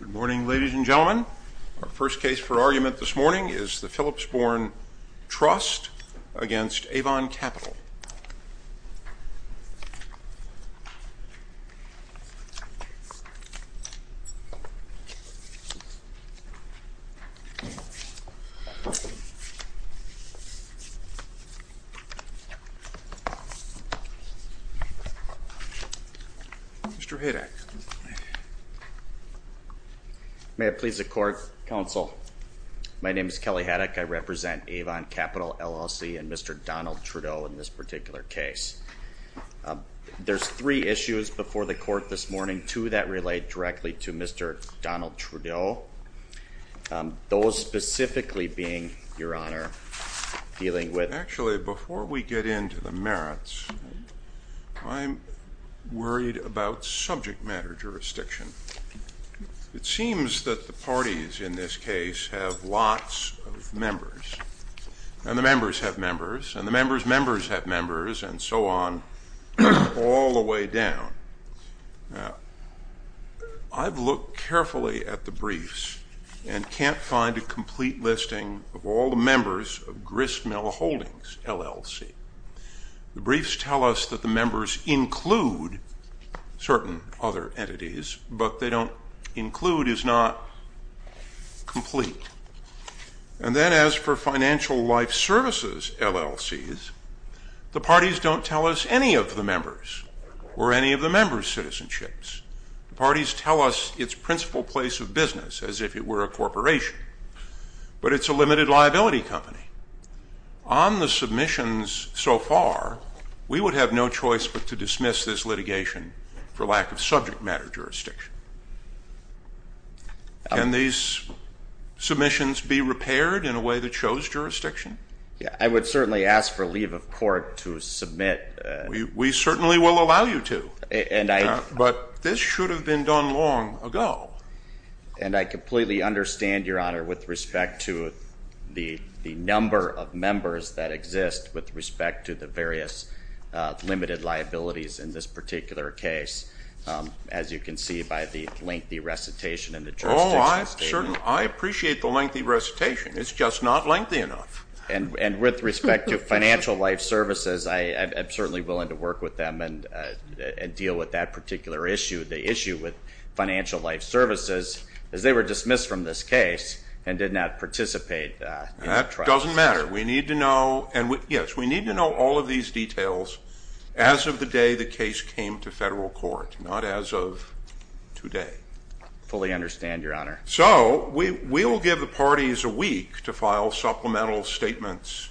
Good morning ladies and gentlemen. Our first case for argument this morning is the Philipsborn Trust v. Avon Capital. Mr. Haddock. May it please the Court, Counsel. My name is Kelly Haddock. I represent Avon Capital, LLC and Mr. Donald Trudeau in this particular case. There's three issues before the Court this morning, two that relate directly to Mr. Donald Trudeau. Those specifically being, Your Honor, dealing with... It seems that the parties in this case have lots of members, and the members have members, and the members' members have members, and so on, all the way down. I've looked carefully at the briefs and can't find a complete listing of all the members of Gristmill Holdings, LLC. The briefs tell us that the members include certain other entities, but they don't include is not complete. And then as for Financial Life Services, LLCs, the parties don't tell us any of the members or any of the members' citizenships. The parties tell us its principal place of business, as if it were a corporation, but it's a limited liability company. On the submissions so far, we would have no choice but to dismiss this litigation for lack of subject matter jurisdiction. Can these submissions be repaired in a way that shows jurisdiction? I would certainly ask for leave of court to submit... We certainly will allow you to. And I... But this should have been done long ago. And I completely understand, Your Honor, with respect to the number of members that exist with respect to the various limited liabilities in this particular case, as you can see by the lengthy recitation and the jurisdiction statement. Oh, I appreciate the lengthy recitation. It's just not lengthy enough. And with respect to Financial Life Services, I'm certainly willing to work with them and deal with that particular issue. The issue with Financial Life Services is they were dismissed from this case and did not participate in the trial. That doesn't matter. We need to know. And, yes, we need to know all of these details as of the day the case came to federal court, not as of today. Fully understand, Your Honor. So we will give the parties a week to file supplemental statements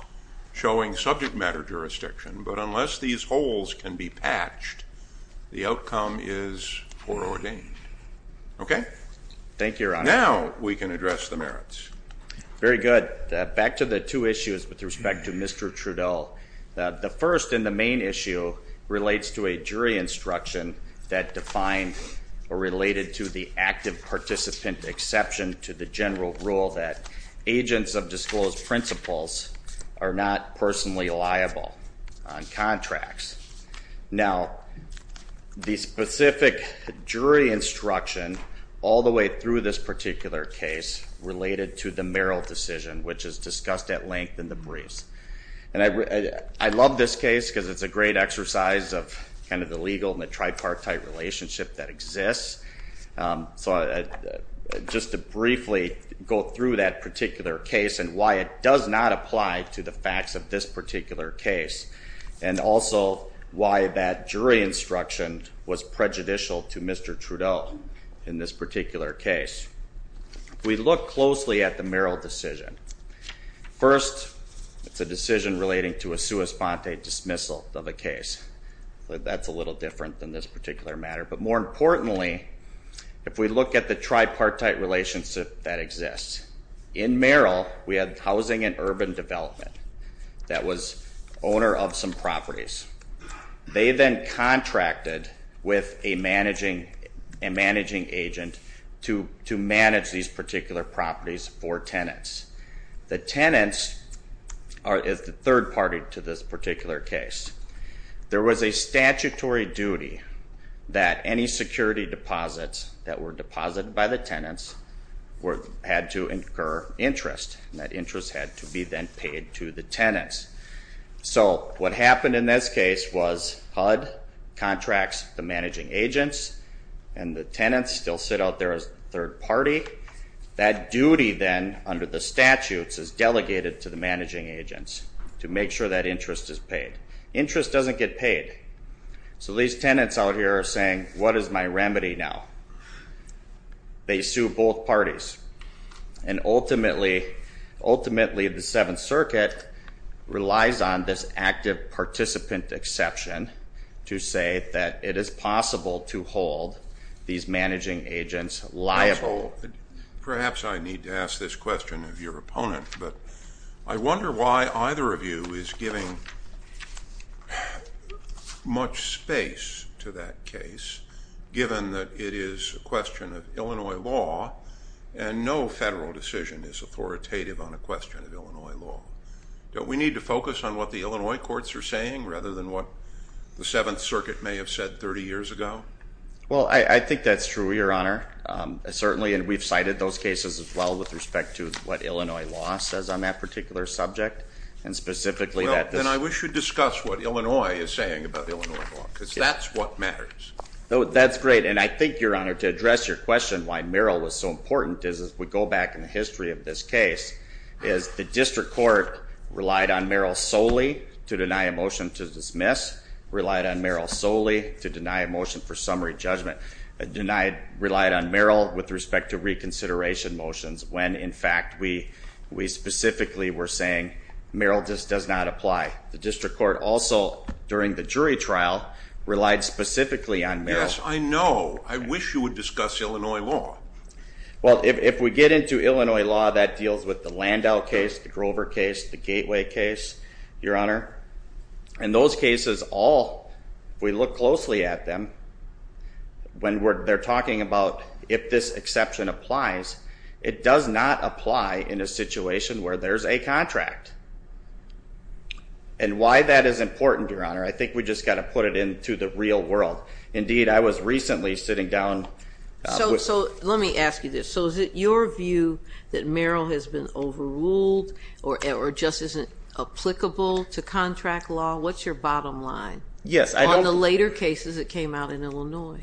showing subject matter jurisdiction. But unless these holes can be patched, the outcome is foreordained. Thank you, Your Honor. Now we can address the merits. Very good. Back to the two issues with respect to Mr. Trudeau. The first and the main issue relates to a jury instruction that defined or related to the active participant exception to the general rule that agents of disclosed principles are not personally liable on contracts. Now, the specific jury instruction all the way through this particular case related to the Merrill decision, which is discussed at length in the briefs. And I love this case because it's a great exercise of kind of the legal and the tripartite relationship that exists. So just to briefly go through that particular case and why it does not apply to the facts of this particular case, and also why that jury instruction was prejudicial to Mr. Trudeau in this particular case. We look closely at the Merrill decision. First, it's a decision relating to a sua sponte dismissal of a case. That's a little different than this particular matter. But more importantly, if we look at the tripartite relationship that exists, in Merrill we had housing and urban development. That was owner of some properties. They then contracted with a managing agent to manage these particular properties for tenants. The tenants are the third party to this particular case. There was a statutory duty that any security deposits that were deposited by the tenants had to incur interest. That interest had to be then paid to the tenants. So what happened in this case was HUD contracts the managing agents, and the tenants still sit out there as the third party. That duty then, under the statutes, is delegated to the managing agents to make sure that interest is paid. Interest doesn't get paid. So these tenants out here are saying, what is my remedy now? They sue both parties. And ultimately, the Seventh Circuit relies on this active participant exception to say that it is possible to hold these managing agents liable. Perhaps I need to ask this question of your opponent, but I wonder why either of you is giving much space to that case, given that it is a question of Illinois law, and no federal decision is authoritative on a question of Illinois law. Don't we need to focus on what the Illinois courts are saying, rather than what the Seventh Circuit may have said 30 years ago? Well, I think that's true, Your Honor. Certainly, and we've cited those cases as well with respect to what Illinois law says on that particular subject, and specifically that this Well, then I wish you'd discuss what Illinois is saying about Illinois law, because that's what matters. That's great. And I think, Your Honor, to address your question, why Merrill was so important, is if we go back in the history of this case, is the district court relied on Merrill solely to deny a motion to dismiss, relied on Merrill solely to deny a motion for summary judgment, and relied on Merrill with respect to reconsideration motions when, in fact, we specifically were saying Merrill just does not apply. The district court also, during the jury trial, relied specifically on Merrill. Yes, I know. I wish you would discuss Illinois law. Well, if we get into Illinois law, that deals with the Landau case, the Grover case, the Gateway case, Your Honor, and those cases all, if we look closely at them, when they're talking about if this exception applies, it does not apply in a situation where there's a contract. And why that is important, Your Honor, I think we just got to put it into the real world. Indeed, I was recently sitting down with So let me ask you this. So is it your view that Merrill has been overruled or just isn't applicable to contract law? What's your bottom line? Yes, I don't On the later cases that came out in Illinois.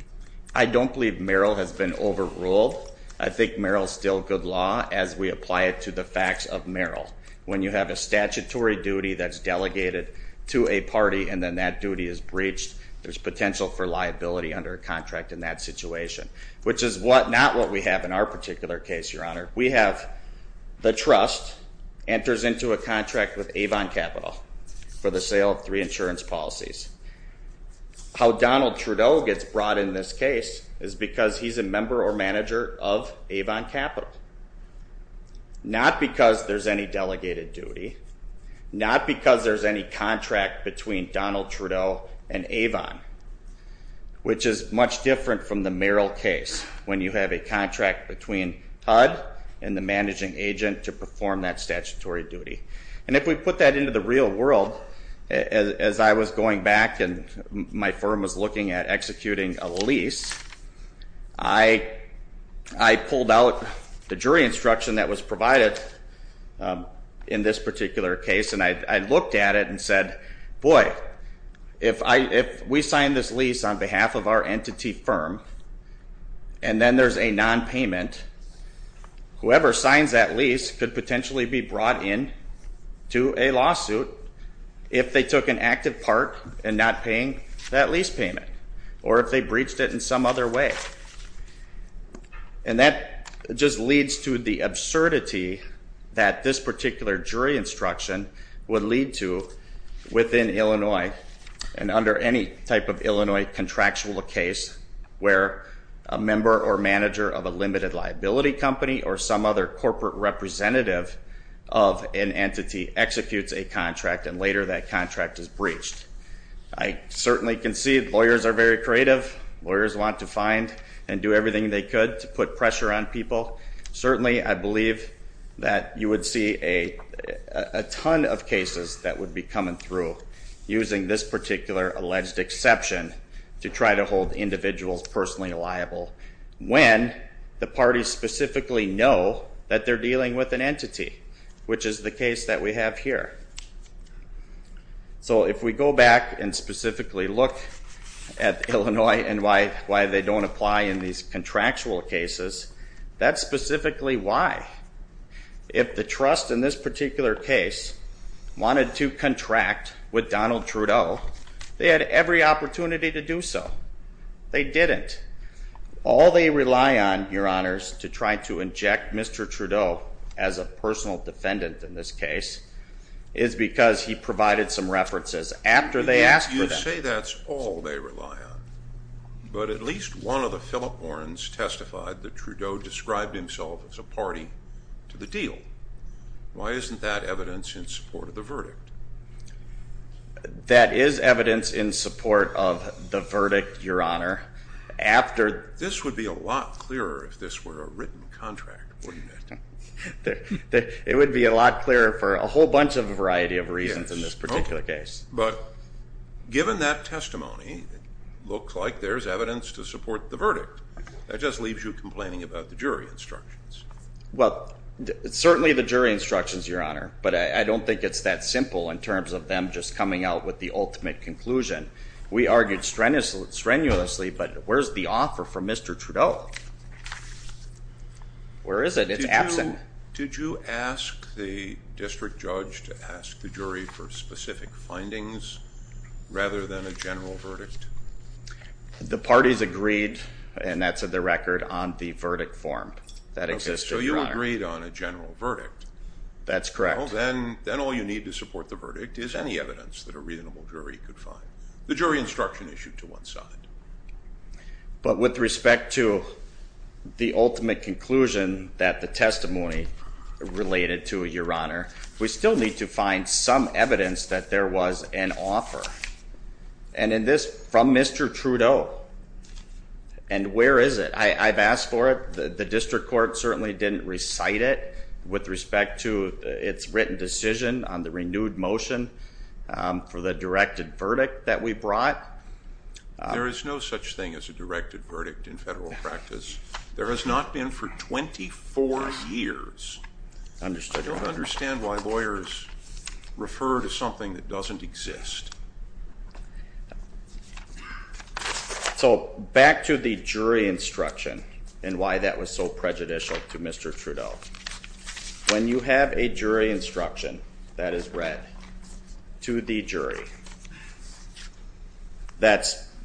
I don't believe Merrill has been overruled. I think Merrill is still good law as we apply it to the facts of Merrill. When you have a statutory duty that's delegated to a party and then that duty is breached, there's potential for liability under a contract in that situation, which is not what we have in our particular case, Your Honor. We have the trust enters into a contract with Avon Capital for the sale of three insurance policies. How Donald Trudeau gets brought in this case is because he's a member or manager of Avon Capital, not because there's any delegated duty, not because there's any contract between Donald Trudeau and Avon, which is much different from the Merrill case when you have a contract between HUD and the managing agent to perform that statutory duty. And if we put that into the real world, as I was going back and my firm was looking at executing a lease, I pulled out the jury instruction that was provided in this particular case, and I looked at it and said, boy, if we sign this lease on behalf of our entity firm and then there's a nonpayment, whoever signs that lease could potentially be brought in to a lawsuit if they took an active part in not paying that lease payment or if they breached it in some other way. And that just leads to the absurdity that this particular jury instruction would lead to within Illinois and under any type of Illinois contractual case where a member or manager of a limited liability company or some other corporate representative of an entity executes a contract and later that contract is breached. I certainly can see lawyers are very creative. Lawyers want to find and do everything they could to put pressure on people. Certainly I believe that you would see a ton of cases that would be coming through using this particular alleged exception to try to hold individuals personally liable when the parties specifically know that they're dealing with an entity, which is the case that we have here. So if we go back and specifically look at Illinois and why they don't apply in these contractual cases, that's specifically why. If the trust in this particular case wanted to contract with Donald Trudeau, they had every opportunity to do so. They didn't. All they rely on, Your Honors, to try to inject Mr. Trudeau as a personal defendant in this case is because he provided some references after they asked for them. You say that's all they rely on, but at least one of the Philip Morrons testified that Trudeau described himself as a party to the deal. Why isn't that evidence in support of the verdict? That is evidence in support of the verdict, Your Honor. This would be a lot clearer if this were a written contract, wouldn't it? It would be a lot clearer for a whole bunch of variety of reasons in this particular case. But given that testimony, it looks like there's evidence to support the verdict. That just leaves you complaining about the jury instructions. Well, certainly the jury instructions, Your Honor, but I don't think it's that simple in terms of them just coming out with the ultimate conclusion. We argued strenuously, but where's the offer from Mr. Trudeau? Where is it? It's absent. Did you ask the district judge to ask the jury for specific findings rather than a general verdict? The parties agreed, and that's in the record, on the verdict form that existed, Your Honor. Okay, so you agreed on a general verdict. That's correct. Well, then all you need to support the verdict is any evidence that a reasonable jury could find. The jury instruction issued to one side. But with respect to the ultimate conclusion that the testimony related to, Your Honor, we still need to find some evidence that there was an offer. And in this, from Mr. Trudeau, and where is it? I've asked for it. The district court certainly didn't recite it with respect to its written decision on the renewed motion for the directed verdict that we brought. There is no such thing as a directed verdict in federal practice. Understood, Your Honor. I don't understand why lawyers refer to something that doesn't exist. So back to the jury instruction and why that was so prejudicial to Mr. Trudeau. When you have a jury instruction that is read to the jury,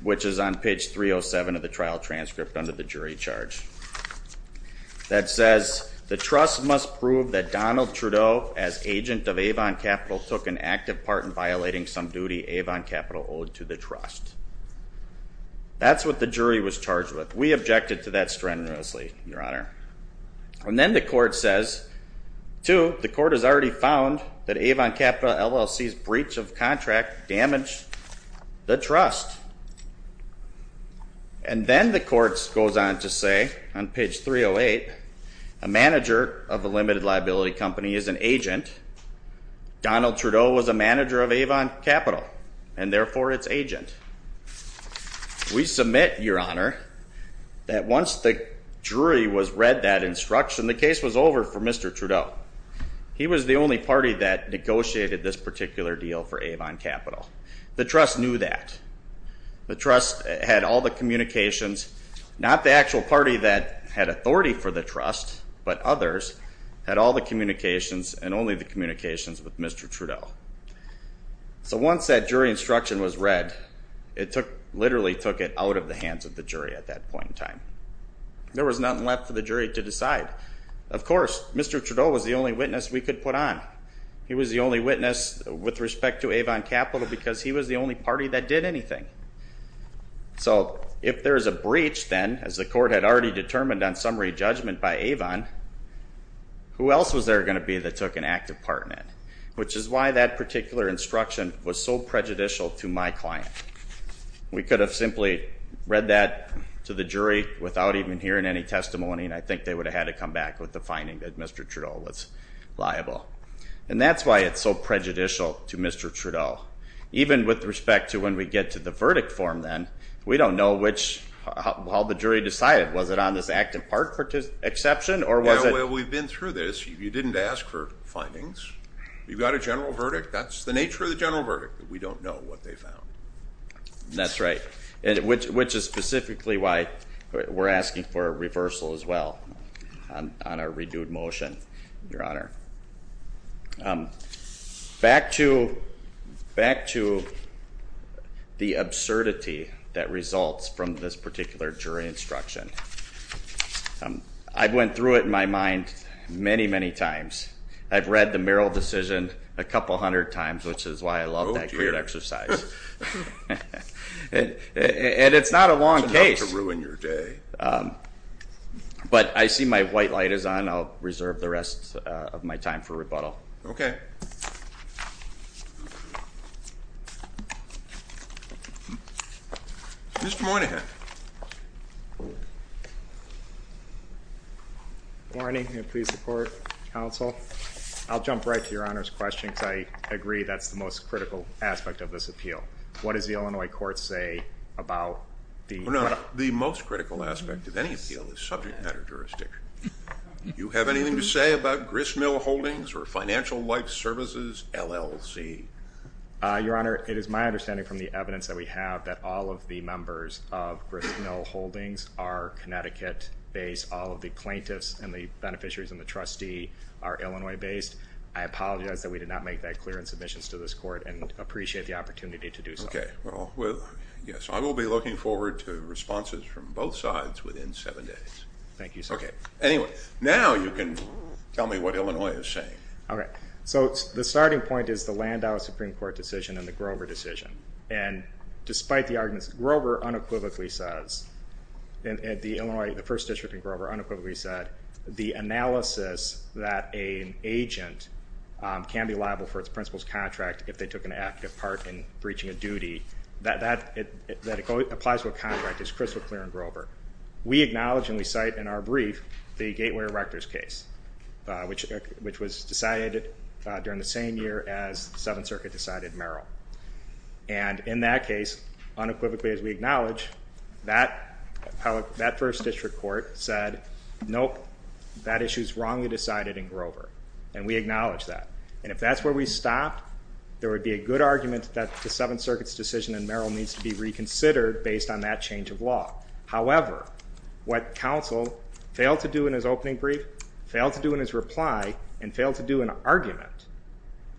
which is on page 307 of the trial transcript under the jury charge, that says the trust must prove that Donald Trudeau, as agent of Avon Capital, took an active part in violating some duty Avon Capital owed to the trust. That's what the jury was charged with. We objected to that strenuously, Your Honor. And then the court says, two, the court has already found that Avon Capital LLC's breach of contract damaged the trust. And then the court goes on to say on page 308, a manager of a limited liability company is an agent. Donald Trudeau was a manager of Avon Capital, and therefore it's agent. We submit, Your Honor, that once the jury read that instruction, the case was over for Mr. Trudeau. He was the only party that negotiated this particular deal for Avon Capital. The trust knew that. The trust had all the communications, not the actual party that had authority for the trust, but others had all the communications and only the communications with Mr. Trudeau. So once that jury instruction was read, it literally took it out of the hands of the jury at that point in time. There was nothing left for the jury to decide. Of course, Mr. Trudeau was the only witness we could put on. He was the only witness with respect to Avon Capital because he was the only party that did anything. So if there is a breach then, as the court had already determined on summary judgment by Avon, who else was there going to be that took an active part in it? Which is why that particular instruction was so prejudicial to my client. We could have simply read that to the jury without even hearing any testimony, and I think they would have had to come back with the finding that Mr. Trudeau was liable. And that's why it's so prejudicial to Mr. Trudeau. Even with respect to when we get to the verdict form then, we don't know which, how the jury decided. Was it on this active part exception or was it? Yeah, well, we've been through this. You didn't ask for findings. You got a general verdict. That's the nature of the general verdict. We don't know what they found. That's right, which is specifically why we're asking for a reversal as well on a reduced motion, Your Honor. Back to the absurdity that results from this particular jury instruction. I went through it in my mind many, many times. I've read the Merrill decision a couple hundred times, which is why I love that great exercise. And it's not a long case. But I see my white light is on. I'll reserve the rest of my time for rebuttal. Okay. Mr. Moynihan. Good morning, and please support counsel. I'll jump right to Your Honor's question, because I agree that's the most critical aspect of this appeal. What does the Illinois court say about the- The most critical aspect of any appeal is subject matter jurisdiction. Do you have anything to say about Gristmill Holdings or Financial Life Services, LLC? Your Honor, it is my understanding from the evidence that we have that all of the members of Gristmill Holdings are Connecticut-based. All of the plaintiffs and the beneficiaries and the trustee are Illinois-based. I apologize that we did not make that clear in submissions to this court and appreciate the opportunity to do so. Okay. Well, yes, I will be looking forward to responses from both sides within seven days. Thank you, sir. Okay. Anyway, now you can tell me what Illinois is saying. Okay. So the starting point is the Landau Supreme Court decision and the Grover decision. And despite the arguments, Grover unequivocally says, the Illinois, the first district in Grover unequivocally said, the analysis that an agent can be liable for its principal's contract if they took an active part in breaching a duty, that it applies to a contract is crystal clear in Grover. We acknowledge and we cite in our brief the Gateway Erectors case, which was decided during the same year as Seventh Circuit decided Merrill. And in that case, unequivocally as we acknowledge, that first district court said, nope, that issue is wrongly decided in Grover. And we acknowledge that. And if that's where we stopped, there would be a good argument that the Seventh Circuit's decision in Merrill needs to be reconsidered based on that change of law. However, what counsel failed to do in his opening brief, failed to do in his reply, and failed to do in an argument,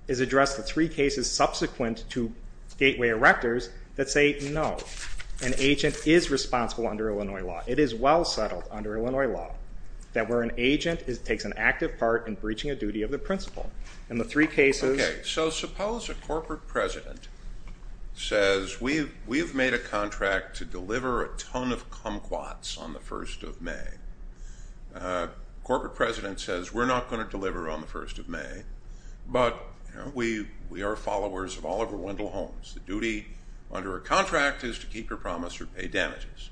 is address the three cases subsequent to Gateway Erectors that say, no, an agent is responsible under Illinois law. It is well settled under Illinois law that where an agent takes an active part in breaching a duty of the principal. And the three cases. Okay, so suppose a corporate president says, we've made a contract to deliver a ton of kumquats on the 1st of May. Corporate president says, we're not going to deliver on the 1st of May, but we are followers of Oliver Wendell Holmes. The duty under a contract is to keep your promise or pay damages.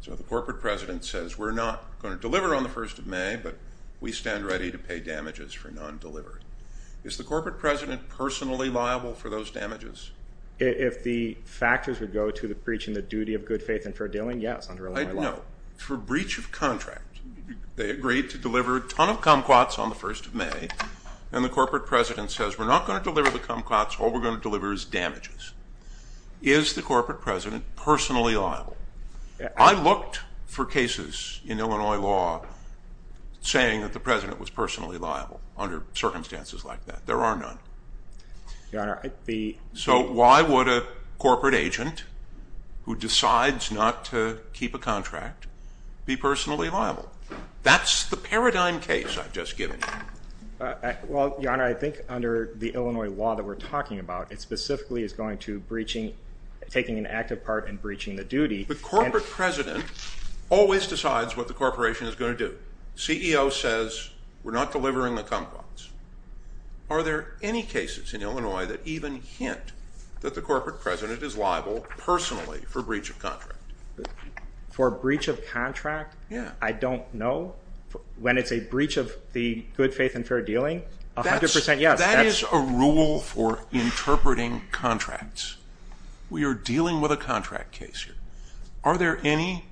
So the corporate president says, we're not going to deliver on the 1st of May, but we stand ready to pay damages for non-delivered. Is the corporate president personally liable for those damages? If the factors would go to the breach in the duty of good faith and fair dealing, yes, under Illinois law. No, for breach of contract. They agreed to deliver a ton of kumquats on the 1st of May, and the corporate president says, we're not going to deliver the kumquats. All we're going to deliver is damages. Is the corporate president personally liable? I looked for cases in Illinois law saying that the president was personally liable under circumstances like that. There are none. So why would a corporate agent who decides not to keep a contract be personally liable? That's the paradigm case I've just given you. Well, Your Honor, I think under the Illinois law that we're talking about, it specifically is going to breaching, taking an active part in breaching the duty. The corporate president always decides what the corporation is going to do. CEO says, we're not delivering the kumquats. Are there any cases in Illinois that even hint that the corporate president is liable personally for breach of contract? For breach of contract? Yeah. I don't know. When it's a breach of the good faith and fair dealing, 100% yes. That is a rule for interpreting contracts. We are dealing with a contract case here. Are there any?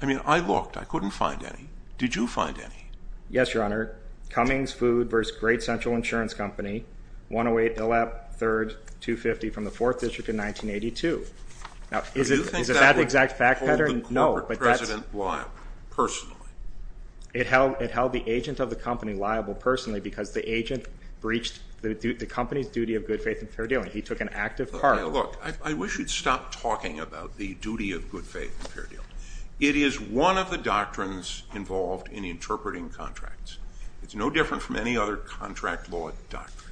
I mean, I looked. I couldn't find any. Did you find any? Yes, Your Honor. Cummings Food v. Great Central Insurance Company, 108 Dillap, 3rd, 250, from the 4th District in 1982. Now, is it that exact fact pattern? Do you think that would hold the corporate president liable personally? It held the agent of the company liable personally because the agent breached the company's duty of good faith and fair dealing. He took an active part. Look, I wish you'd stop talking about the duty of good faith and fair dealing. It is one of the doctrines involved in interpreting contracts. It's no different from any other contract law doctrine.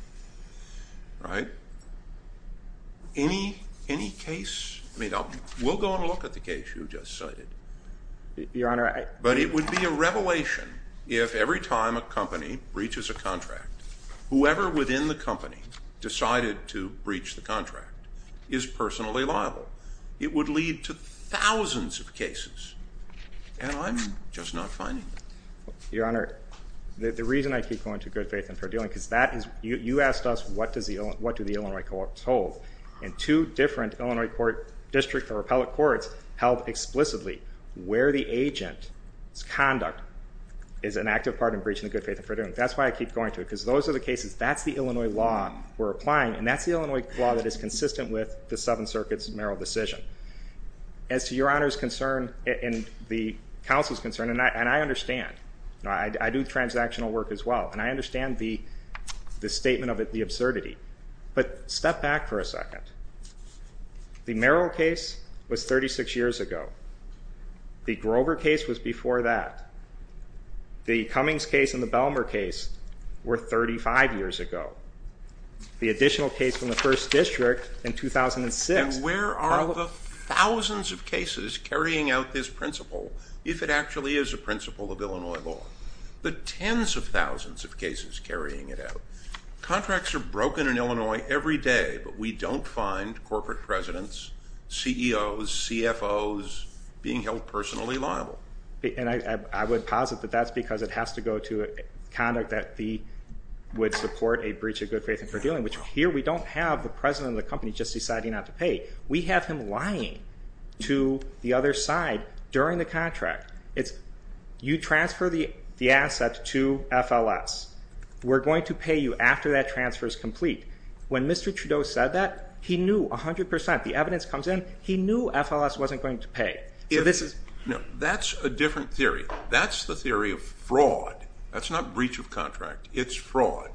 Right? Any case? I mean, we'll go and look at the case you just cited. Your Honor, I But it would be a revelation if every time a company breaches a contract, whoever within the company decided to breach the contract is personally liable. It would lead to thousands of cases, and I'm just not finding them. Your Honor, the reason I keep going to good faith and fair dealing is that you asked us what do the Illinois courts hold, and two different Illinois district or appellate courts held explicitly where the agent's conduct is an active part in breaching the good faith and fair dealing. That's why I keep going to it, because those are the cases. That's the Illinois law we're applying, and that's the Illinois law that is consistent with the Seventh Circuit's merrill decision. As to Your Honor's concern and the counsel's concern, and I understand. I do transactional work as well, and I understand the statement of the absurdity. But step back for a second. The merrill case was 36 years ago. The Grover case was before that. The Cummings case and the Belmer case were 35 years ago. The additional case from the first district in 2006. And where are the thousands of cases carrying out this principle if it actually is a principle of Illinois law? The tens of thousands of cases carrying it out. Contracts are broken in Illinois every day, but we don't find corporate presidents, CEOs, CFOs being held personally liable. And I would posit that that's because it has to go to conduct that would support a breach of good faith and fair dealing, which here we don't have the president of the company just deciding not to pay. We have him lying to the other side during the contract. You transfer the assets to FLS. We're going to pay you after that transfer is complete. When Mr. Trudeau said that, he knew 100%. The evidence comes in. He knew FLS wasn't going to pay. No, that's a different theory. That's the theory of fraud. That's not breach of contract. It's fraud.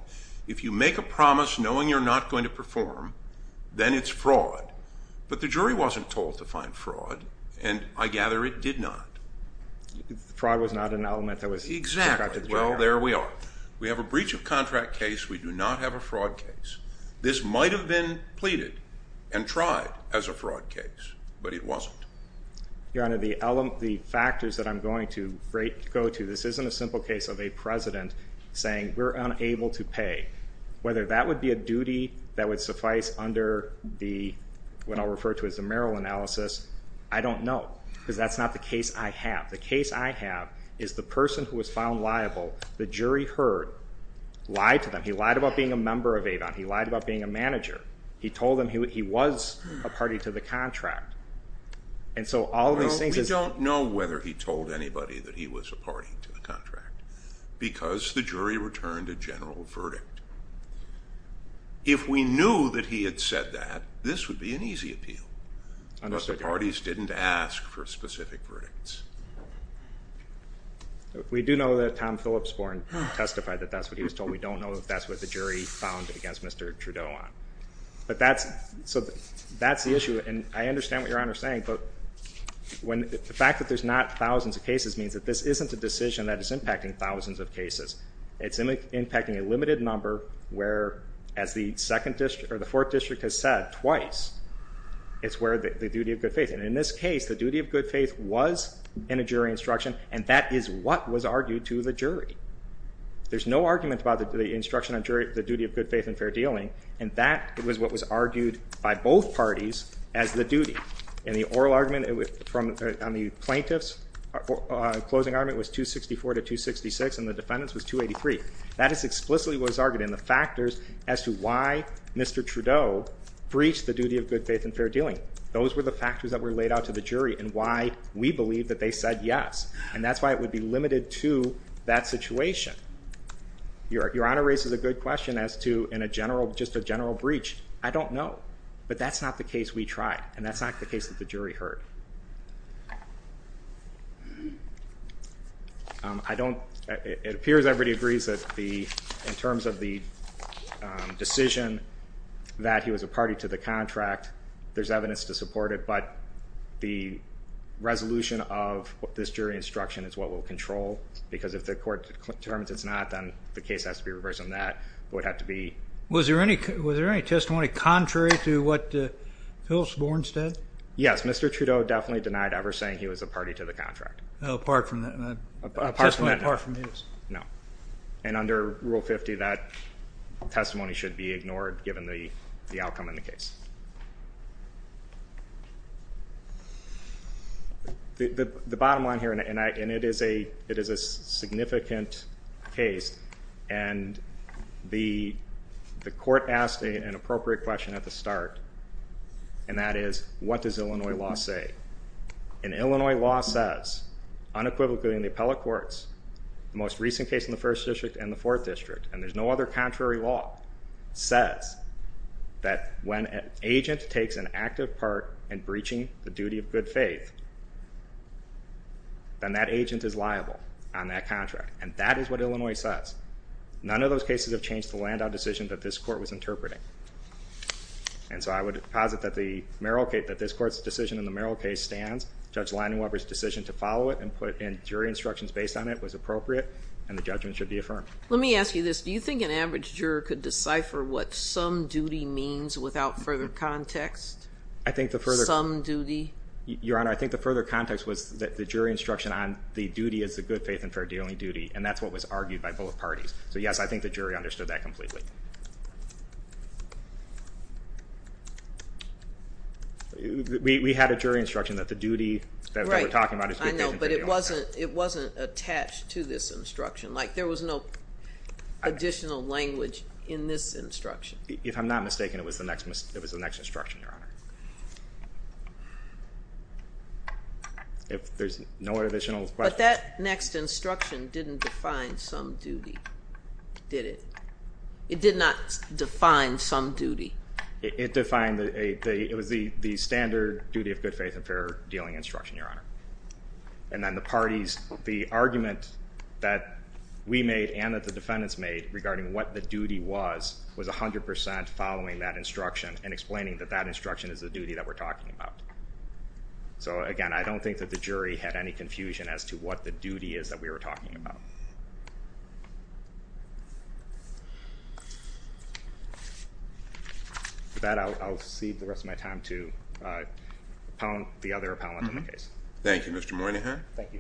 If you make a promise knowing you're not going to perform, then it's fraud. But the jury wasn't told to find fraud, and I gather it did not. Fraud was not an element that was described to the jury. Exactly. And there we are. We have a breach of contract case. We do not have a fraud case. This might have been pleaded and tried as a fraud case, but it wasn't. Your Honor, the factors that I'm going to go to, this isn't a simple case of a president saying we're unable to pay. Whether that would be a duty that would suffice under what I'll refer to as the Merrill analysis, I don't know because that's not the case I have. The case I have is the person who was found liable, the jury heard, lied to them. He lied about being a member of Avon. He lied about being a manager. He told them he was a party to the contract. We don't know whether he told anybody that he was a party to the contract because the jury returned a general verdict. If we knew that he had said that, this would be an easy appeal. But the parties didn't ask for specific verdicts. We do know that Tom Phillipsborn testified that that's what he was told. We don't know if that's what the jury found against Mr. Trudeau on. That's the issue, and I understand what Your Honor is saying. The fact that there's not thousands of cases means that this isn't a decision that is impacting thousands of cases. It's impacting a limited number where, as the Fourth District has said twice, it's where the duty of good faith. In this case, the duty of good faith was in a jury instruction, and that is what was argued to the jury. There's no argument about the instruction on the duty of good faith and fair dealing, and that was what was argued by both parties as the duty. In the oral argument, on the plaintiff's closing argument, it was 264 to 266, and the defendant's was 283. That is explicitly what was argued, and the factors as to why Mr. Trudeau breached the duty of good faith and fair dealing, those were the factors that were laid out to the jury and why we believe that they said yes, and that's why it would be limited to that situation. Your Honor raises a good question as to just a general breach. I don't know, but that's not the case we tried, and that's not the case that the jury heard. It appears everybody agrees that in terms of the decision that he was a party to the contract, there's evidence to support it, but the resolution of this jury instruction is what we'll control, because if the court determines it's not, then the case has to be reversed on that. It would have to be. Was there any testimony contrary to what Phil Sporn said? Yes. Mr. Trudeau definitely denied ever saying he was a party to the contract. Apart from that testimony apart from his. No. And under Rule 50, that testimony should be ignored, given the outcome in the case. The bottom line here, and it is a significant case, and the court asked an appropriate question at the start, and that is, what does Illinois law say? And Illinois law says, unequivocally in the appellate courts, the most recent case in the First District and the Fourth District, and there's no other contrary law, says that when an agent takes an active part in breaching the duty of good faith, then that agent is liable on that contract, and that is what Illinois says. None of those cases have changed the land-down decision that this court was interpreting. And so I would posit that the Merrill case, that this court's decision in the Merrill case stands. Judge Leidenwalder's decision to follow it and put in jury instructions based on it was appropriate, and the judgment should be affirmed. Let me ask you this. Do you think an average juror could decipher what some duty means without further context? I think the further. Some duty. Your Honor, I think the further context was that the jury instruction on the duty is the good faith and fair dealing duty, and that's what was argued by both parties. So yes, I think the jury understood that completely. We had a jury instruction that the duty that we're talking about is good faith and fair dealing. I know, but it wasn't attached to this instruction. Like there was no additional language in this instruction. If I'm not mistaken, it was the next instruction, Your Honor. If there's no additional questions. But that next instruction didn't define some duty, did it? It did not define some duty. It defined the standard duty of good faith and fair dealing instruction, Your Honor. And then the parties, the argument that we made and that the defendants made regarding what the duty was, was 100% following that instruction and explaining that that instruction is the duty that we're talking about. So again, I don't think that the jury had any confusion as to what the duty is that we were talking about. With that, I'll cede the rest of my time to the other appellant in the case. Thank you, Mr. Moynihan. Thank you.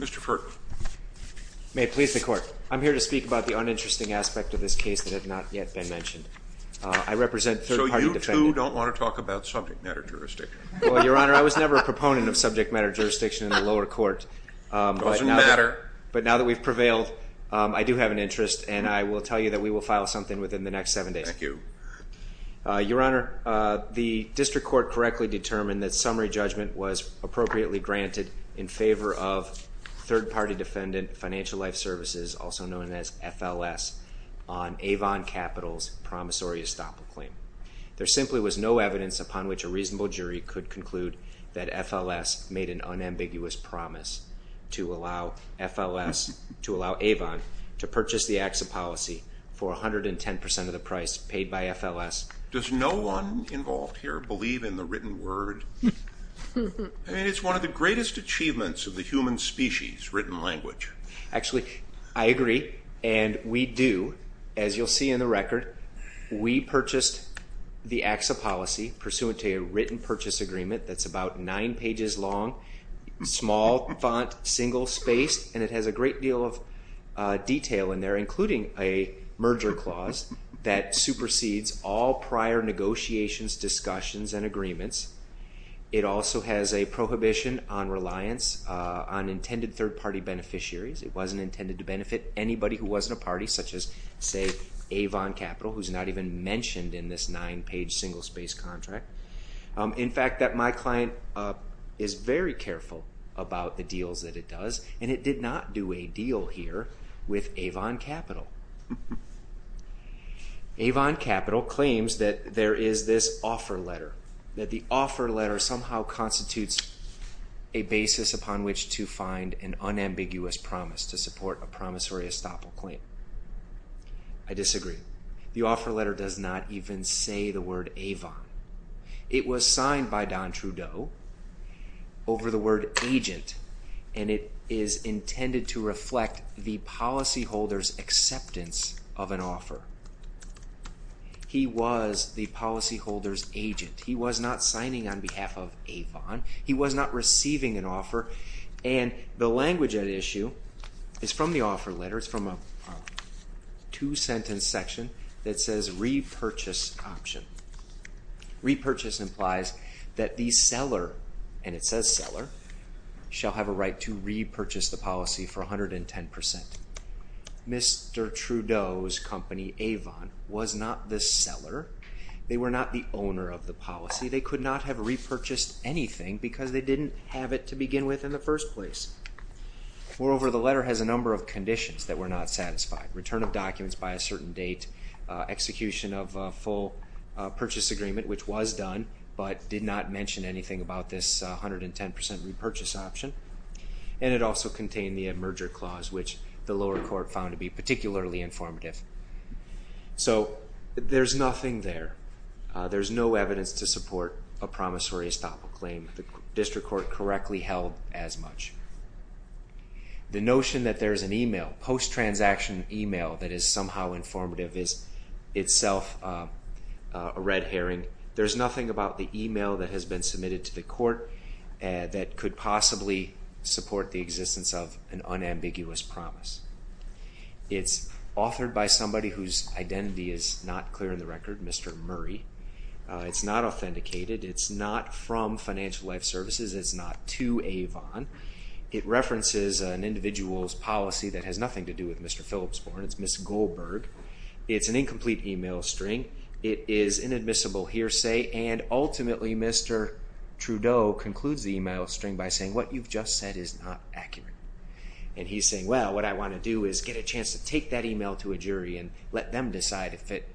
Mr. Furton. May it please the Court. I'm here to speak about the uninteresting aspect of this case that has not yet been mentioned. I represent third-party defendants. So you two don't want to talk about something that interesting? Well, Your Honor, I was never a proponent of subject matter jurisdiction in the lower court. Doesn't matter. But now that we've prevailed, I do have an interest, and I will tell you that we will file something within the next seven days. Thank you. Your Honor, the district court correctly determined that summary judgment was appropriately granted in favor of third-party defendant, Financial Life Services, also known as FLS, on Avon Capital's promissory estoppel claim. There simply was no evidence upon which a reasonable jury could conclude that FLS made an unambiguous promise to allow Avon to purchase the AXA policy for 110% of the price paid by FLS. Does no one involved here believe in the written word? I mean, it's one of the greatest achievements of the human species, written language. Actually, I agree, and we do. As you'll see in the record, we purchased the AXA policy pursuant to a written purchase agreement that's about nine pages long, small font, single space, and it has a great deal of detail in there, including a merger clause that supersedes all prior negotiations, discussions, and agreements. It also has a prohibition on reliance on intended third-party beneficiaries. It wasn't intended to benefit anybody who wasn't a party, such as, say, Avon Capital, who's not even mentioned in this nine-page single space contract. In fact, my client is very careful about the deals that it does, and it did not do a deal here with Avon Capital. Avon Capital claims that there is this offer letter, that the offer letter somehow constitutes a basis upon which to find an unambiguous promise to support a promissory estoppel claim. I disagree. The offer letter does not even say the word Avon. It was signed by Don Trudeau over the word agent, and it is intended to reflect the policyholder's acceptance of an offer. He was the policyholder's agent. He was not signing on behalf of Avon. He was not receiving an offer, and the language at issue is from the offer letter. It's from a two-sentence section that says repurchase option. Repurchase implies that the seller, and it says seller, shall have a right to repurchase the policy for 110%. Mr. Trudeau's company, Avon, was not the seller. They were not the owner of the policy. They could not have repurchased anything because they didn't have it to begin with in the first place. Moreover, the letter has a number of conditions that were not satisfied. Return of documents by a certain date, execution of a full purchase agreement, which was done, but did not mention anything about this 110% repurchase option, and it also contained the merger clause, which the lower court found to be particularly informative. So there's nothing there. There's no evidence to support a promissory estoppel claim. The district court correctly held as much. The notion that there's an email, post-transaction email, that is somehow informative is itself a red herring. There's nothing about the email that has been submitted to the court that could possibly support the existence of an unambiguous promise. It's authored by somebody whose identity is not clear in the record, Mr. Murray. It's not authenticated. It's not from Financial Life Services. It's not to Avon. It references an individual's policy that has nothing to do with Mr. Philipsborn. It's Ms. Goldberg. It's an incomplete email string. It is inadmissible hearsay, and ultimately Mr. Trudeau concludes the email string by saying, what you've just said is not accurate. And he's saying, well, what I want to do is get a chance to take that email to a jury and let them decide if it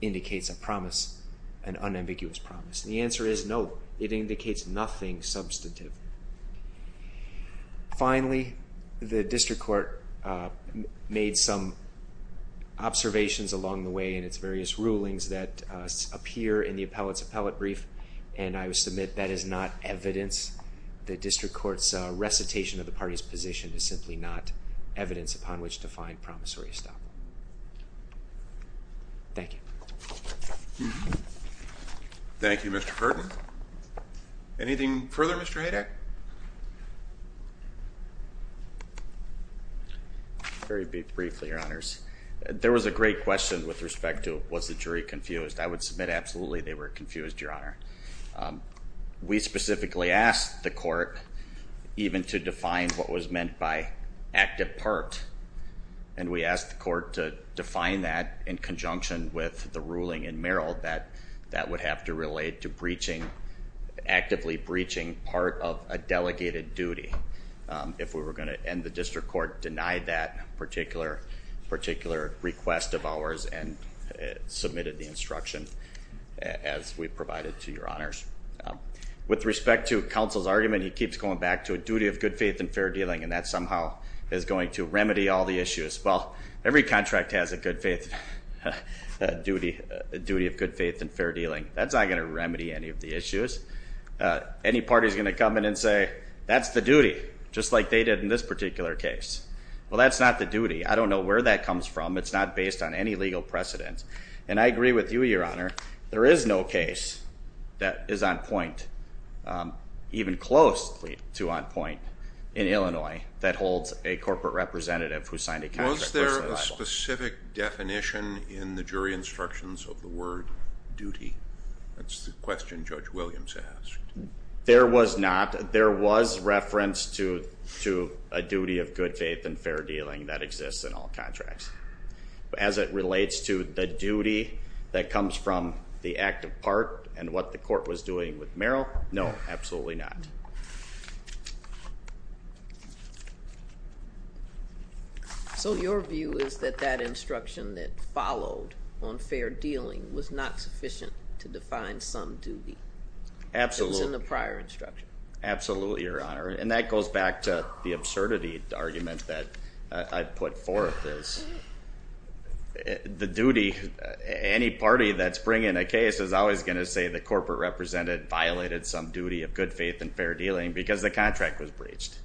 indicates a promise, an unambiguous promise. And the answer is no. It indicates nothing substantive. Finally, the district court made some observations along the way in its various rulings that appear in the appellate's appellate brief, and I would submit that is not evidence. The district court's recitation of the party's position is simply not evidence upon which to find promissory estoppel. Thank you. Thank you, Mr. Pertin. Anything further, Mr. Haydack? Very briefly, Your Honors. There was a great question with respect to was the jury confused. I would submit absolutely they were confused, Your Honor. We specifically asked the court even to define what was meant by active part, and we asked the court to define that in conjunction with the ruling in Merrill that that would have to relate to breaching, actively breaching part of a delegated duty. If we were going to end the district court, deny that particular request of ours and submitted the instruction, as we provided to Your Honors. With respect to counsel's argument, he keeps going back to a duty of good faith and fair dealing, and that somehow is going to remedy all the issues. Well, every contract has a good faith duty, a duty of good faith and fair dealing. That's not going to remedy any of the issues. Any party is going to come in and say that's the duty, just like they did in this particular case. Well, that's not the duty. I don't know where that comes from. It's not based on any legal precedent. And I agree with you, Your Honor, there is no case that is on point, even close to on point, in Illinois that holds a corporate representative who signed a contract. Was there a specific definition in the jury instructions of the word duty? That's the question Judge Williams asked. There was not. There was reference to a duty of good faith and fair dealing that exists in all contracts. As it relates to the duty that comes from the act of part and what the court was doing with Merrill, no, absolutely not. So your view is that that instruction that followed on fair dealing was not sufficient to define some duty. Absolutely. Absolutely, Your Honor. And that goes back to the absurdity argument that I put forth. The duty, any party that's bringing a case is always going to say the corporate representative violated some duty of good faith and fair dealing because the contract was breached.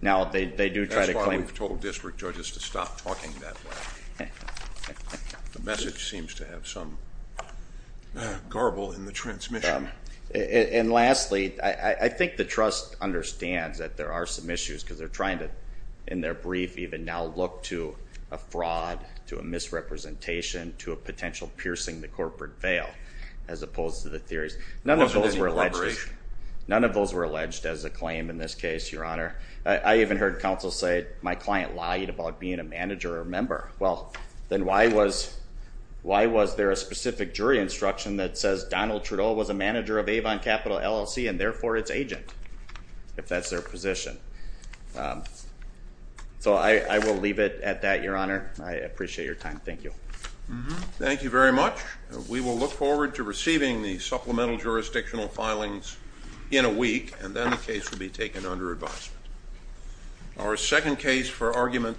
That's why we've told district judges to stop talking that way. The message seems to have some garble in the transmission. And lastly, I think the trust understands that there are some issues because they're trying to, in their brief, even now look to a fraud, to a misrepresentation, to a potential piercing the corporate veil as opposed to the theories. None of those were alleged. None of those were alleged as a claim in this case, Your Honor. I even heard counsel say my client lied about being a manager or a member. Well, then why was there a specific jury instruction that says Donald Trudeau was a manager of Avon Capital LLC and therefore its agent, if that's their position? So I will leave it at that, Your Honor. I appreciate your time. Thank you. Thank you very much. We will look forward to receiving the supplemental jurisdictional filings in a week, and then the case will be taken under advisement. Our second case for argument.